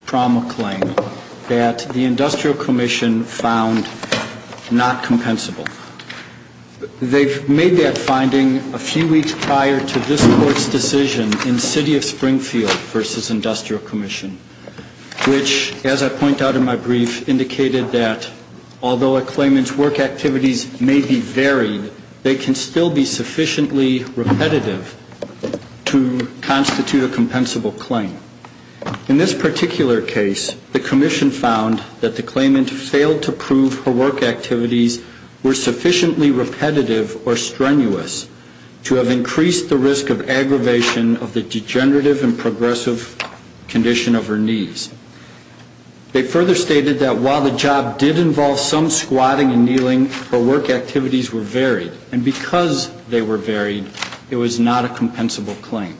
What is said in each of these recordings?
found not compensable. They've made that finding a few weeks prior to this court's decision in City of Springfield v. Industrial Commission, which, as I point out in my brief, indicated that although a claimant's work activities may be varied, they can still be sufficiently repetitive to constitute a compensable claim. In this particular case, the Commission found that the claimant failed to prove her work activities were sufficiently repetitive or strenuous to have increased the risk of aggravation of the degenerative and progressive condition of her knees. They further stated that while the job did involve some squatting and kneeling, her work activities were varied, and because they were varied, it was not a compensable claim.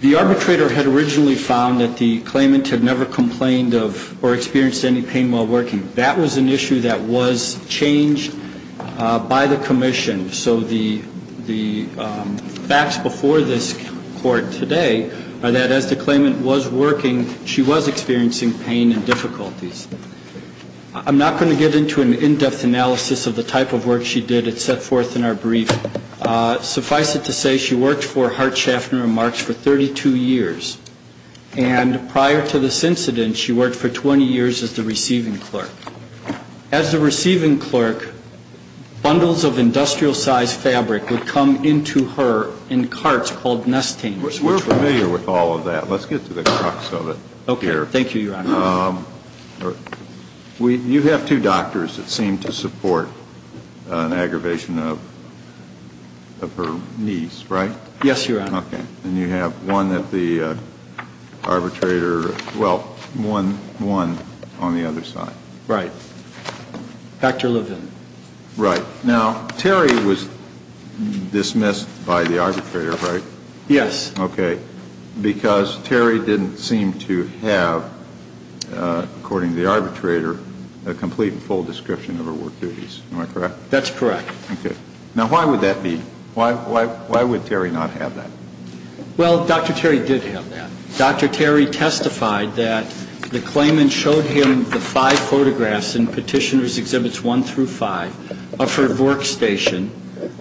The arbitrator had originally found that the claimant had never complained of or experienced any pain while working. That was an issue that was changed by the Commission. So the facts before this court today are that as the claimant was working, she was experiencing pain and difficulties. I'm not going to get into an in-depth analysis of the type of work she did. It's set forth in our brief. Suffice it to say, she worked for Hart Schaffner and Marks for 32 years, and prior to this incident, she worked for 20 years as the receiving clerk. As the receiving clerk, bundles of industrial-sized fabric would come into her in carts called nest tainters. We're familiar with all of that. Let's get to the crux of it here. You have two doctors that seem to support an aggravation of her knees, right? Yes, Your Honor. Okay. And you have one at the arbitrator, well, one on the other side. Right. Dr. Levin. Right. Now, Terry was dismissed by the arbitrator, right? Yes. Okay. Because Terry didn't seem to have, according to the arbitrator, a complete and full description of her work duties. Am I correct? That's correct. Okay. Now, why would that be? Why would Terry not have that? Well, Dr. Terry did have that. Dr. Terry testified that the claimant showed him the five photographs in Petitioner's Exhibits 1 through 5 of her workstation,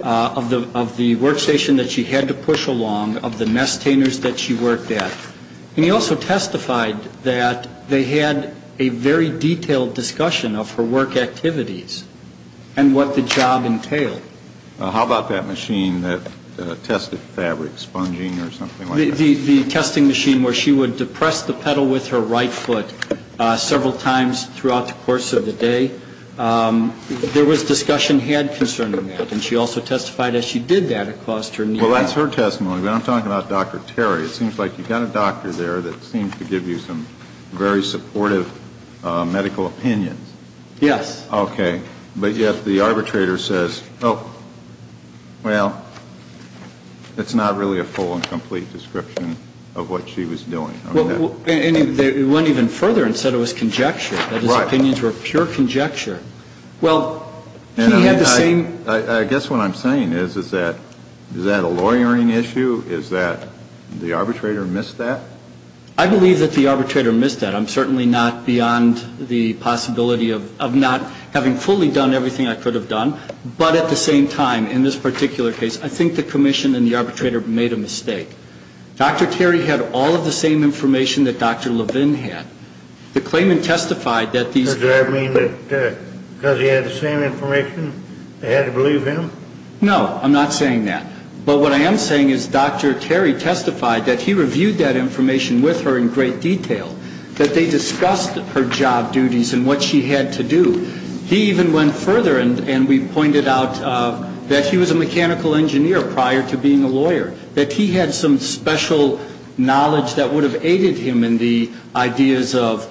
of the workstation that she had to push along, of the nest tainters that she worked at. And he also testified that they had a very detailed discussion of her work activities and what the job entailed. How about that machine that tested fabric, sponging or something like that? The testing machine where she would depress the pedal with her right foot several times throughout the course of the day. There was discussion had concerning that, and she also testified that she did that across her knee. Well, that's her testimony, but I'm talking about Dr. Terry. It seems like you've got a doctor there that seems to give you some very supportive medical opinions. Yes. Okay. But yet the arbitrator says, oh, well, it's not really a full and complete description of what she was doing. And he went even further and said it was conjecture, that his opinions were pure conjecture. Well, he had the same – I guess what I'm saying is, is that a lawyering issue? Is that the arbitrator missed that? I believe that the arbitrator missed that. I'm certainly not beyond the possibility of not having fully done everything I could have done. But at the same time, in this particular case, I think the commission and the arbitrator made a mistake. Dr. Terry had all of the same information that Dr. Levin had. The claimant testified that these – Does that mean that because he had the same information, they had to believe him? No. I'm not saying that. But what I am saying is Dr. Terry testified that he reviewed that information with her in great detail, that they discussed her job duties and what she had to do. He even went further and we pointed out that he was a mechanical engineer prior to being a lawyer, that he had some special knowledge that would have aided him in the ideas of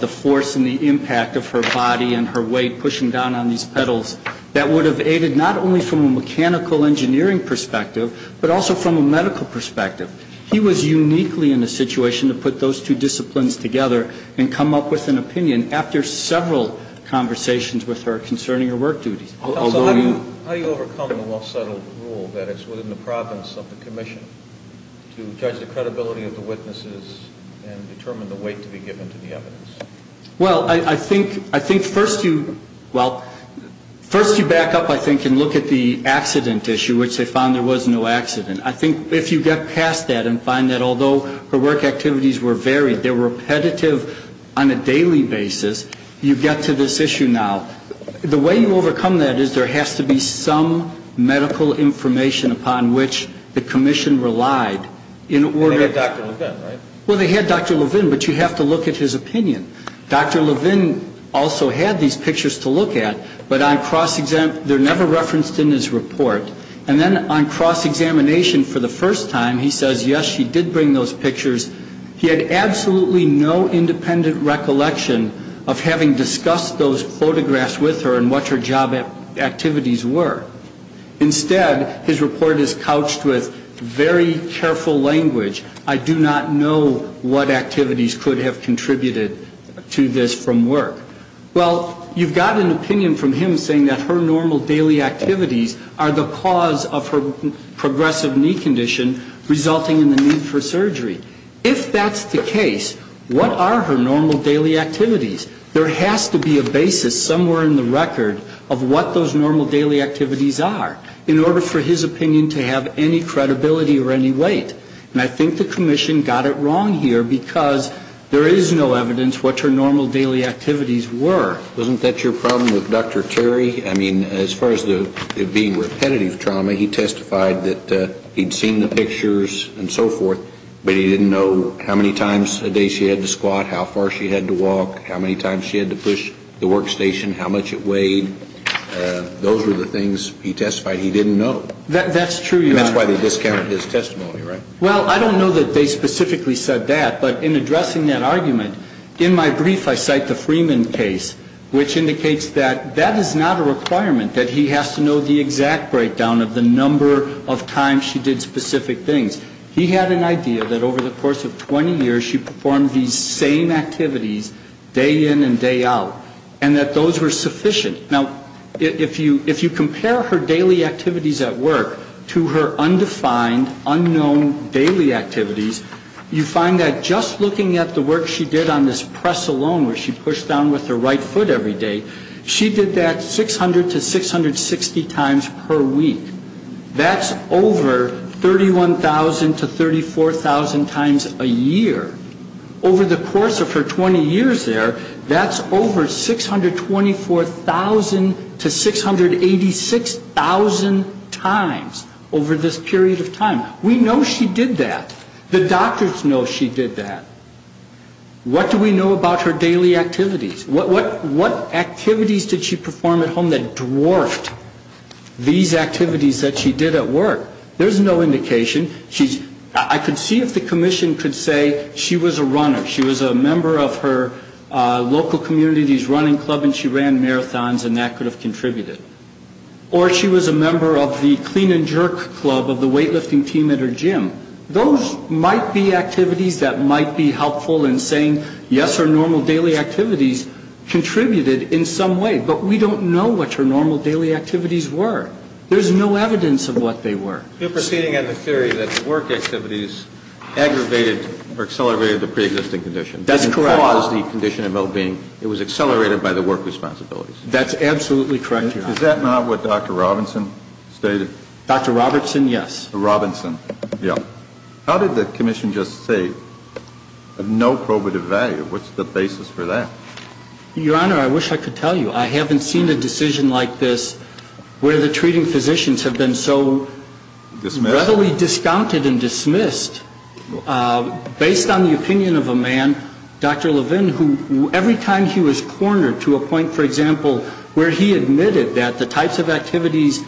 the force and the impact of her body and her weight pushing down on these pedals, that would have aided not only from a mechanical engineering perspective, but also from a medical perspective. He was uniquely in a situation to put those two disciplines together and come up with an opinion after several conversations with her concerning her work duties. How do you overcome the well-settled rule that it's within the province of the commission to judge the credibility of the witnesses and determine the weight to be given to the evidence? Well, I think first you, well, first you back up I think and look at the accident issue, which they found there was no accident. I think if you get past that and find that although her work activities were varied, they were repetitive on a daily basis, you get to this issue now. The way you overcome that is there has to be some medical information upon which the commission relied in order They had Dr. Levin, right? Well, they had Dr. Levin, but you have to look at his opinion. Dr. Levin also had these pictures to look at, but they're never referenced in his report. And then on cross-examination for the first time, he says, yes, she did bring those pictures. He had absolutely no independent recollection of having discussed those photographs with her and what her job activities were. Instead, his report is couched with very careful language. I do not know what activities could have contributed to this from work. Well, you've got an opinion from him saying that her normal daily activities are the cause of her progressive knee condition resulting in the need for surgery. If that's the case, what are her normal daily activities? There has to be a basis somewhere in the record of what those normal daily activities are in order for his opinion to have any credibility or any weight. And I think the commission got it wrong here because there is no evidence what her normal daily activities were. Wasn't that your problem with Dr. Terry? I mean, as far as it being repetitive trauma, he testified that he'd seen the pictures and so forth, but he didn't know how many times a day she had to squat, how far she had to walk, how many times she had to push the workstation, how much it weighed. Those were the things he testified he didn't know. That's true, Your Honor. And that's why they discounted his testimony, right? Well, I don't know that they specifically said that, but in addressing that argument, in my brief I cite the Freeman case, which indicates that that is not a requirement, that he has to know the exact breakdown of the number of times she did specific things. He had an idea that over the course of 20 years she performed these same activities day in and day out, and that those were sufficient. Now, if you compare her daily activities at work to her undefined, unknown daily activities, you find that just looking at the work she did on this press alone where she pushed down with her right foot every day, she did that 600 to 660 times per week. That's over 31,000 to 34,000 times a year. Over the course of her 20 years there, that's over 624,000 to 686,000 times over this period of time. We know she did that. The doctors know she did that. What do we know about her daily activities? What activities did she perform at home that dwarfed these activities that she did at work? There's no indication. I could see if the commission could say she was a runner, she was a member of her local community's running club and she ran marathons, and that could have contributed. Or she was a member of the clean and jerk club of the weightlifting team at her gym. Those might be activities that might be helpful in saying, yes, her normal daily activities contributed in some way, but we don't know what her normal daily activities were. There's no evidence of what they were. You're proceeding on the theory that the work activities aggravated or accelerated the preexisting condition. That's correct. And caused the condition of well-being. It was accelerated by the work responsibilities. That's absolutely correct, Your Honor. Is that not what Dr. Robinson stated? Dr. Robertson, yes. Robinson, yeah. How did the commission just say of no probative value? What's the basis for that? Your Honor, I wish I could tell you. I haven't seen a decision like this where the treating physicians have been so readily discounted and dismissed. Based on the opinion of a man, Dr. Levin, who every time he was cornered to a point, for example, where he admitted that the types of activities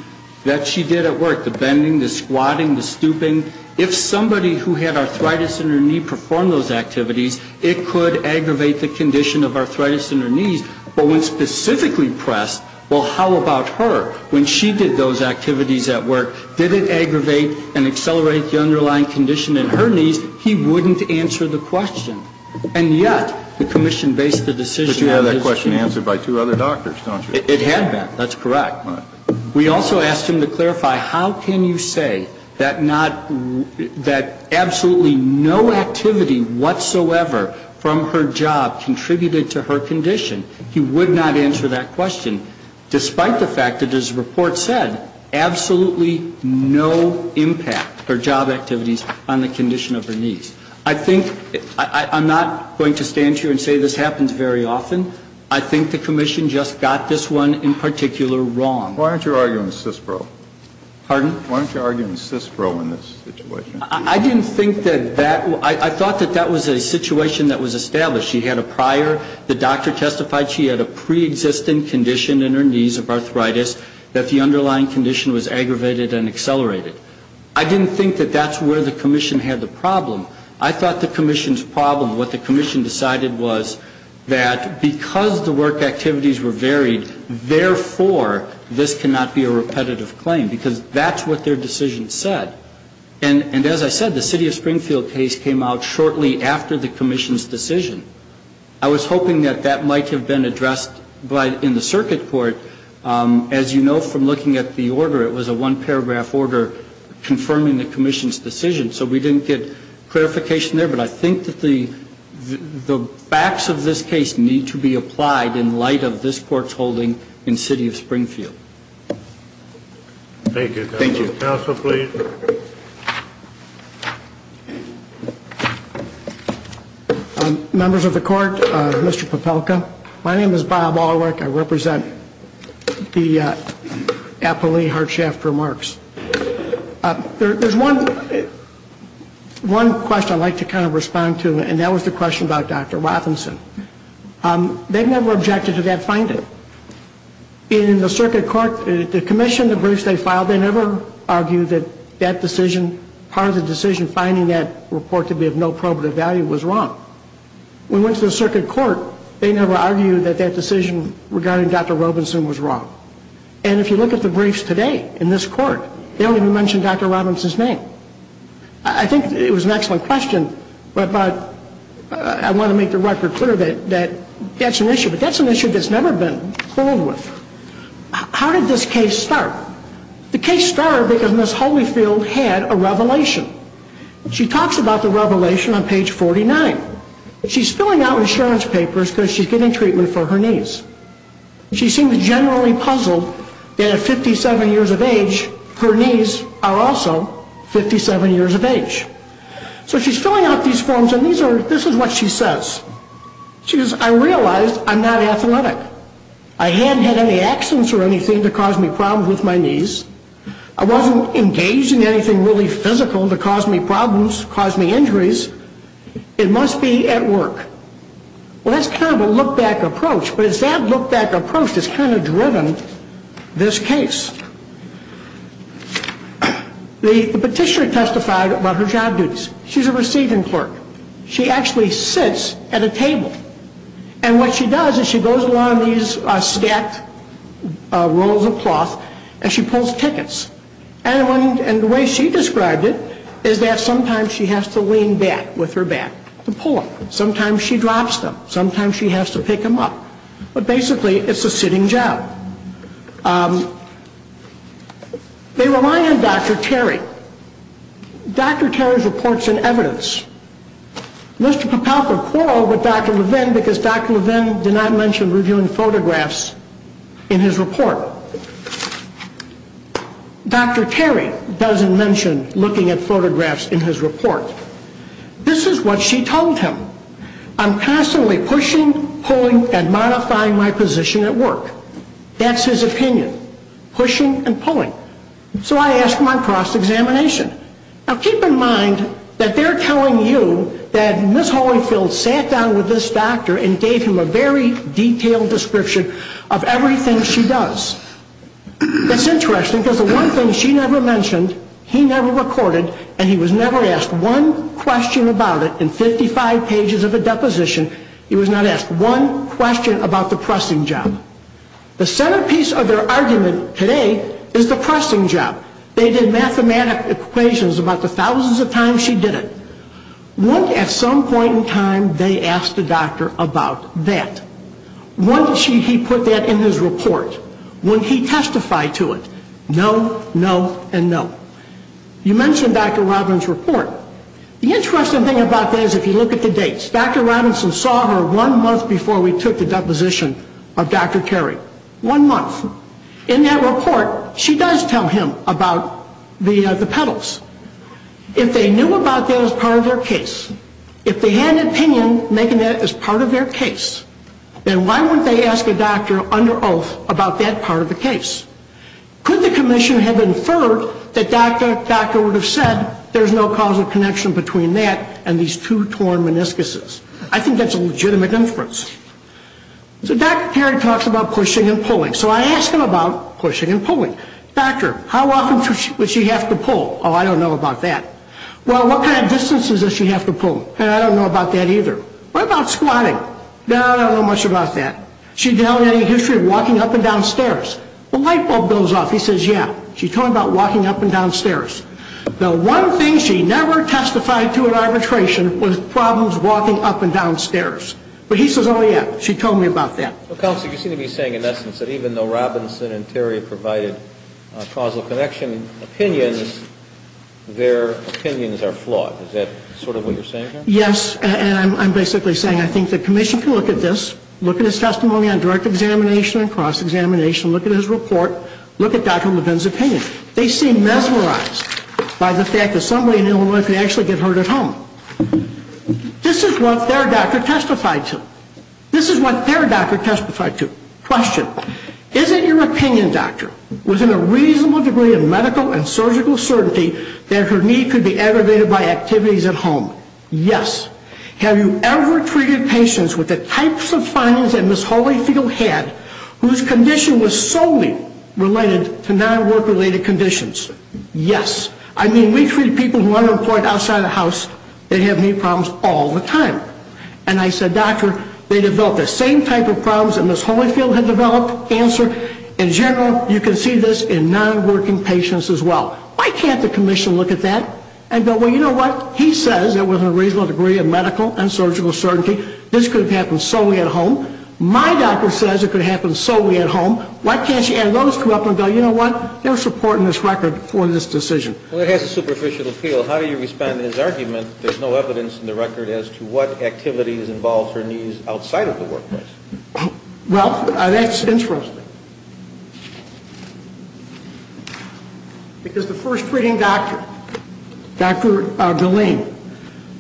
that she did at work, the bending, the squatting, the stooping, if somebody who had arthritis in her knee performed those activities, it could aggravate the condition of arthritis in her knees. But when specifically pressed, well, how about her? When she did those activities at work, did it aggravate and accelerate the underlying condition in her knees? He wouldn't answer the question. And yet the commission based the decision on this. But you have that question answered by two other doctors, don't you? It had been. That's correct. All right. We also asked him to clarify, how can you say that not, that absolutely no activity whatsoever from her job contributed to her condition? He would not answer that question, despite the fact that his report said absolutely no impact her job activities on the condition of her knees. I think, I'm not going to stand here and say this happens very often. I think the commission just got this one in particular wrong. Why don't you argue in CISPRO? Pardon? Why don't you argue in CISPRO in this situation? I didn't think that that, I thought that that was a situation that was established. She had a prior, the doctor testified she had a pre-existing condition in her knees of arthritis, that the underlying condition was aggravated and accelerated. I didn't think that that's where the commission had the problem. I thought the commission's problem, what the commission decided was that because the work activities were varied, therefore, this cannot be a repetitive claim, because that's what their decision said. And as I said, the City of Springfield case came out shortly after the commission's decision. I was hoping that that might have been addressed in the circuit court. As you know from looking at the order, it was a one-paragraph order confirming the commission's decision, so we didn't get clarification there. But I think that the facts of this case need to be applied in light of this court's holding in City of Springfield. Thank you. Thank you. Counsel, please. Members of the court, Mr. Popelka, my name is Bob Alwick. I represent the Applee Hardshaft Remarks. There's one question I'd like to kind of respond to, and that was the question about Dr. Robinson. They've never objected to that finding. In the circuit court, the commission, the briefs they filed, they never argued that that decision, part of the decision finding that report to be of no probative value was wrong. When we went to the circuit court, they never argued that that decision regarding Dr. Robinson was wrong. And if you look at the briefs today in this court, they don't even mention Dr. Robinson's name. I think it was an excellent question, but I want to make the record clear that that's an issue. It's an issue that's never been filled with. How did this case start? The case started because Ms. Holyfield had a revelation. She talks about the revelation on page 49. She's filling out insurance papers because she's getting treatment for her knees. She seems generally puzzled that at 57 years of age, her knees are also 57 years of age. So she's filling out these forms, and this is what she says. She says, I realize I'm not athletic. I hadn't had any accidents or anything to cause me problems with my knees. I wasn't engaged in anything really physical to cause me problems, cause me injuries. It must be at work. Well, that's kind of a look-back approach, but it's that look-back approach that's kind of driven this case. The petitioner testified about her job duties. She's a receiving clerk. She actually sits at a table. And what she does is she goes along these stacked rolls of cloth, and she pulls tickets. And the way she described it is that sometimes she has to lean back with her back to pull them. Sometimes she drops them. Sometimes she has to pick them up. But basically, it's a sitting job. They rely on Dr. Terry. Dr. Terry's reports and evidence. Mr. Papalka quarreled with Dr. Levin because Dr. Levin did not mention reviewing photographs in his report. Dr. Terry doesn't mention looking at photographs in his report. This is what she told him. I'm constantly pushing, pulling, and modifying my position at work. That's his opinion. Pushing and pulling. So I asked him on cross-examination. Now, keep in mind that they're telling you that Ms. Holyfield sat down with this doctor and gave him a very detailed description of everything she does. That's interesting because the one thing she never mentioned, he never recorded, and he was never asked one question about it in 55 pages of a deposition. He was not asked one question about the pressing job. The centerpiece of their argument today is the pressing job. They did mathematic equations about the thousands of times she did it. At some point in time, they asked the doctor about that. When did he put that in his report? When he testified to it? No, no, and no. You mentioned Dr. Robinson's report. The interesting thing about that is if you look at the dates. Dr. Robinson saw her one month before we took the deposition of Dr. Carey. One month. In that report, she does tell him about the pedals. If they knew about that as part of their case, if they had an opinion making that as part of their case, then why wouldn't they ask a doctor under oath about that part of the case? Could the commission have inferred that Dr. would have said, there's no causal connection between that and these two torn meniscuses? I think that's a legitimate inference. So Dr. Carey talks about pushing and pulling. So I ask him about pushing and pulling. Doctor, how often would she have to pull? Oh, I don't know about that. Well, what kind of distances does she have to pull? I don't know about that either. What about squatting? No, I don't know much about that. She's telling him the history of walking up and down stairs. The light bulb goes off. He says, yeah. She's talking about walking up and down stairs. The one thing she never testified to in arbitration was problems walking up and down stairs. But he says, oh, yeah. She told me about that. Counsel, you seem to be saying, in essence, that even though Robinson and Terry provided causal connection opinions, their opinions are flawed. Is that sort of what you're saying here? Yes, and I'm basically saying I think the commission can look at this, look at his testimony on direct examination and cross-examination, look at his report, look at Dr. Levin's opinion. They seem mesmerized by the fact that somebody in Illinois can actually get hurt at home. This is what their doctor testified to. This is what their doctor testified to. Question, is it your opinion, doctor, within a reasonable degree of medical and surgical certainty that her knee could be aggravated by activities at home? Yes. Have you ever treated patients with the types of findings that Ms. Holyfield had, whose condition was solely related to non-work-related conditions? Yes. I mean, we treat people who are unemployed outside of the house. They have knee problems all the time. And I said, doctor, they developed the same type of problems that Ms. Holyfield had developed. Answer, in general, you can see this in non-working patients as well. Why can't the commission look at that and go, well, you know what, he says that within a reasonable degree of medical and surgical certainty, this could have happened solely at home. My doctor says it could happen solely at home. Why can't you add those two up and go, you know what, there's support in this record for this decision. Well, it has a superficial appeal. How do you respond to his argument that there's no evidence in the record as to what activities involved her knees outside of the workplace? Well, that's interesting. Because the first treating doctor, Dr. Gilleen,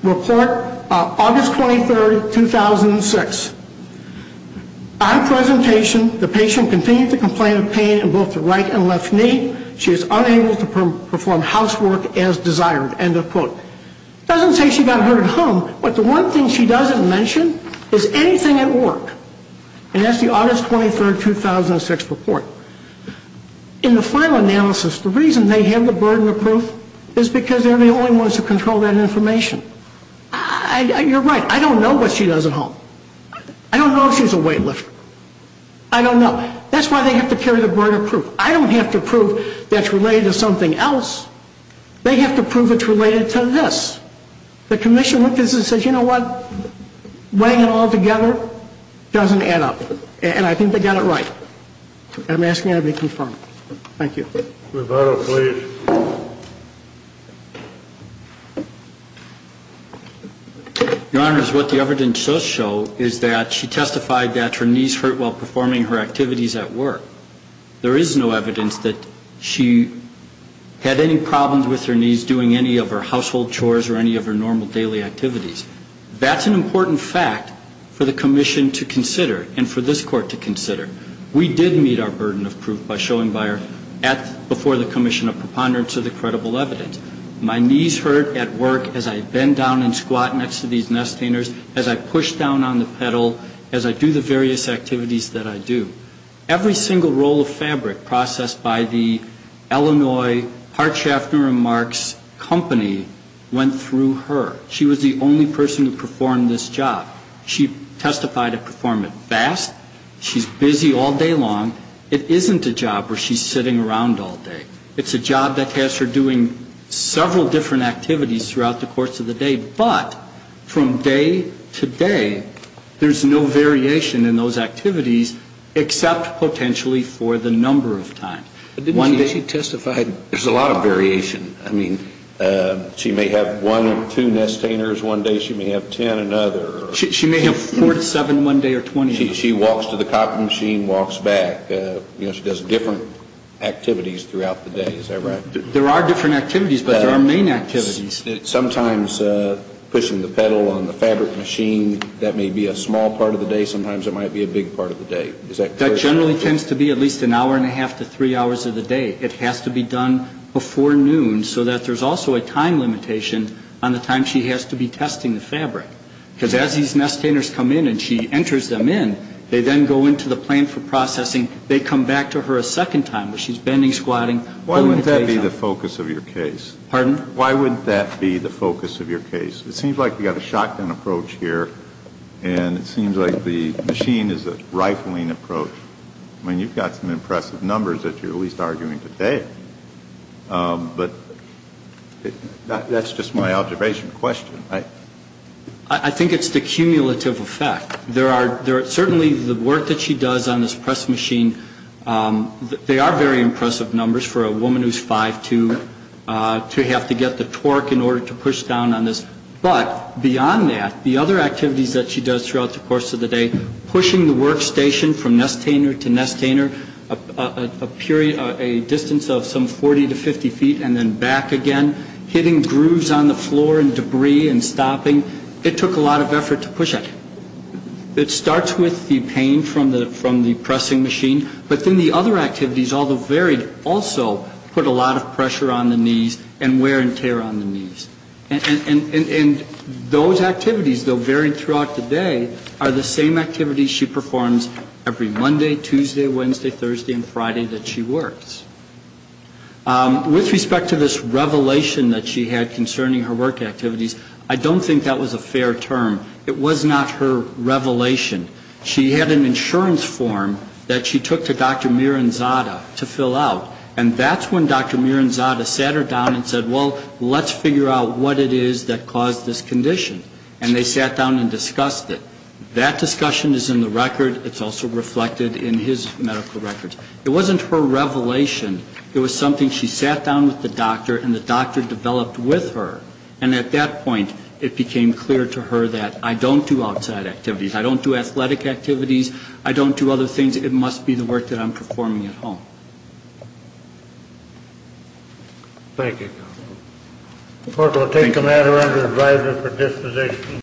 report, August 23rd, 2006. On presentation, the patient continued to complain of pain in both the right and left knee. She is unable to perform housework as desired, end of quote. Doesn't say she got hurt at home, but the one thing she doesn't mention is anything at work. And that's the August 23rd, 2006 report. In the final analysis, the reason they have the burden of proof is because they're the only ones who control that information. You're right. I don't know what she does at home. I don't know if she's a weightlifter. I don't know. That's why they have to carry the burden of proof. I don't have to prove that's related to something else. They have to prove it's related to this. The commission looked at this and said, you know what? Weighing it all together doesn't add up. And I think they got it right. And I'm asking that it be confirmed. Thank you. Roberto, please. Your Honor, what the evidence does show is that she testified that her knees hurt while performing her activities at work. There is no evidence that she had any problems with her knees doing any of her household chores or any of her normal daily activities. That's an important fact for the commission to consider and for this Court to consider. We did meet our burden of proof by showing by her at before the commission a preponderance of the credible evidence. My knees hurt at work as I bend down and squat next to these nestainers, as I push down on the pedal, as I do the various activities that I do. Every single roll of fabric processed by the Illinois Hardshaft and Remarks Company went through her. She was the only person to perform this job. She testified to perform it fast. She's busy all day long. It isn't a job where she's sitting around all day. It's a job that has her doing several different activities throughout the course of the day. But from day to day, there's no variation in those activities except potentially for the number of times. One day she testified. There's a lot of variation. I mean, she may have one or two nestainers one day. She may have ten another. She may have four to seven one day or 20. She walks to the copying machine, walks back. You know, she does different activities throughout the day. Is that right? There are different activities, but there are main activities. Sometimes pushing the pedal on the fabric machine, that may be a small part of the day. Sometimes it might be a big part of the day. Is that correct? That generally tends to be at least an hour and a half to three hours of the day. It has to be done before noon so that there's also a time limitation on the time she has to be testing the fabric. Because as these nestainers come in and she enters them in, they then go into the plant for processing. They come back to her a second time where she's bending, squatting. Why would that be the focus of your case? Pardon? Why would that be the focus of your case? It seems like we've got a shotgun approach here, and it seems like the machine is a rifling approach. I mean, you've got some impressive numbers that you're at least arguing today. But that's just my observation question. I think it's the cumulative effect. There are certainly the work that she does on this press machine. They are very impressive numbers for a woman who's 5'2 to have to get the torque in order to push down on this. But beyond that, the other activities that she does throughout the course of the day, pushing the workstation from nestainer to nestainer a distance of some 40 to 50 feet and then back again, hitting grooves on the floor and debris and stopping, it took a lot of effort to push that. It starts with the pain from the pressing machine. But then the other activities, although varied, also put a lot of pressure on the knees and wear and tear on the knees. And those activities, though varied throughout the day, are the same activities she performs every Monday, Tuesday, Wednesday, Thursday and Friday that she works. With respect to this revelation that she had concerning her work activities, I don't think that was a fair term. It was not her revelation. She had an insurance form that she took to Dr. Miranzada to fill out. And that's when Dr. Miranzada sat her down and said, well, let's figure out what it is that caused this condition. And they sat down and discussed it. That discussion is in the record. It's also reflected in his medical records. It wasn't her revelation. It was something she sat down with the doctor and the doctor developed with her. And at that point, it became clear to her that I don't do outside activities. I don't do athletic activities. I don't do other things. It must be the work that I'm performing at home. Thank you. The court will take the matter under advisory for disposition.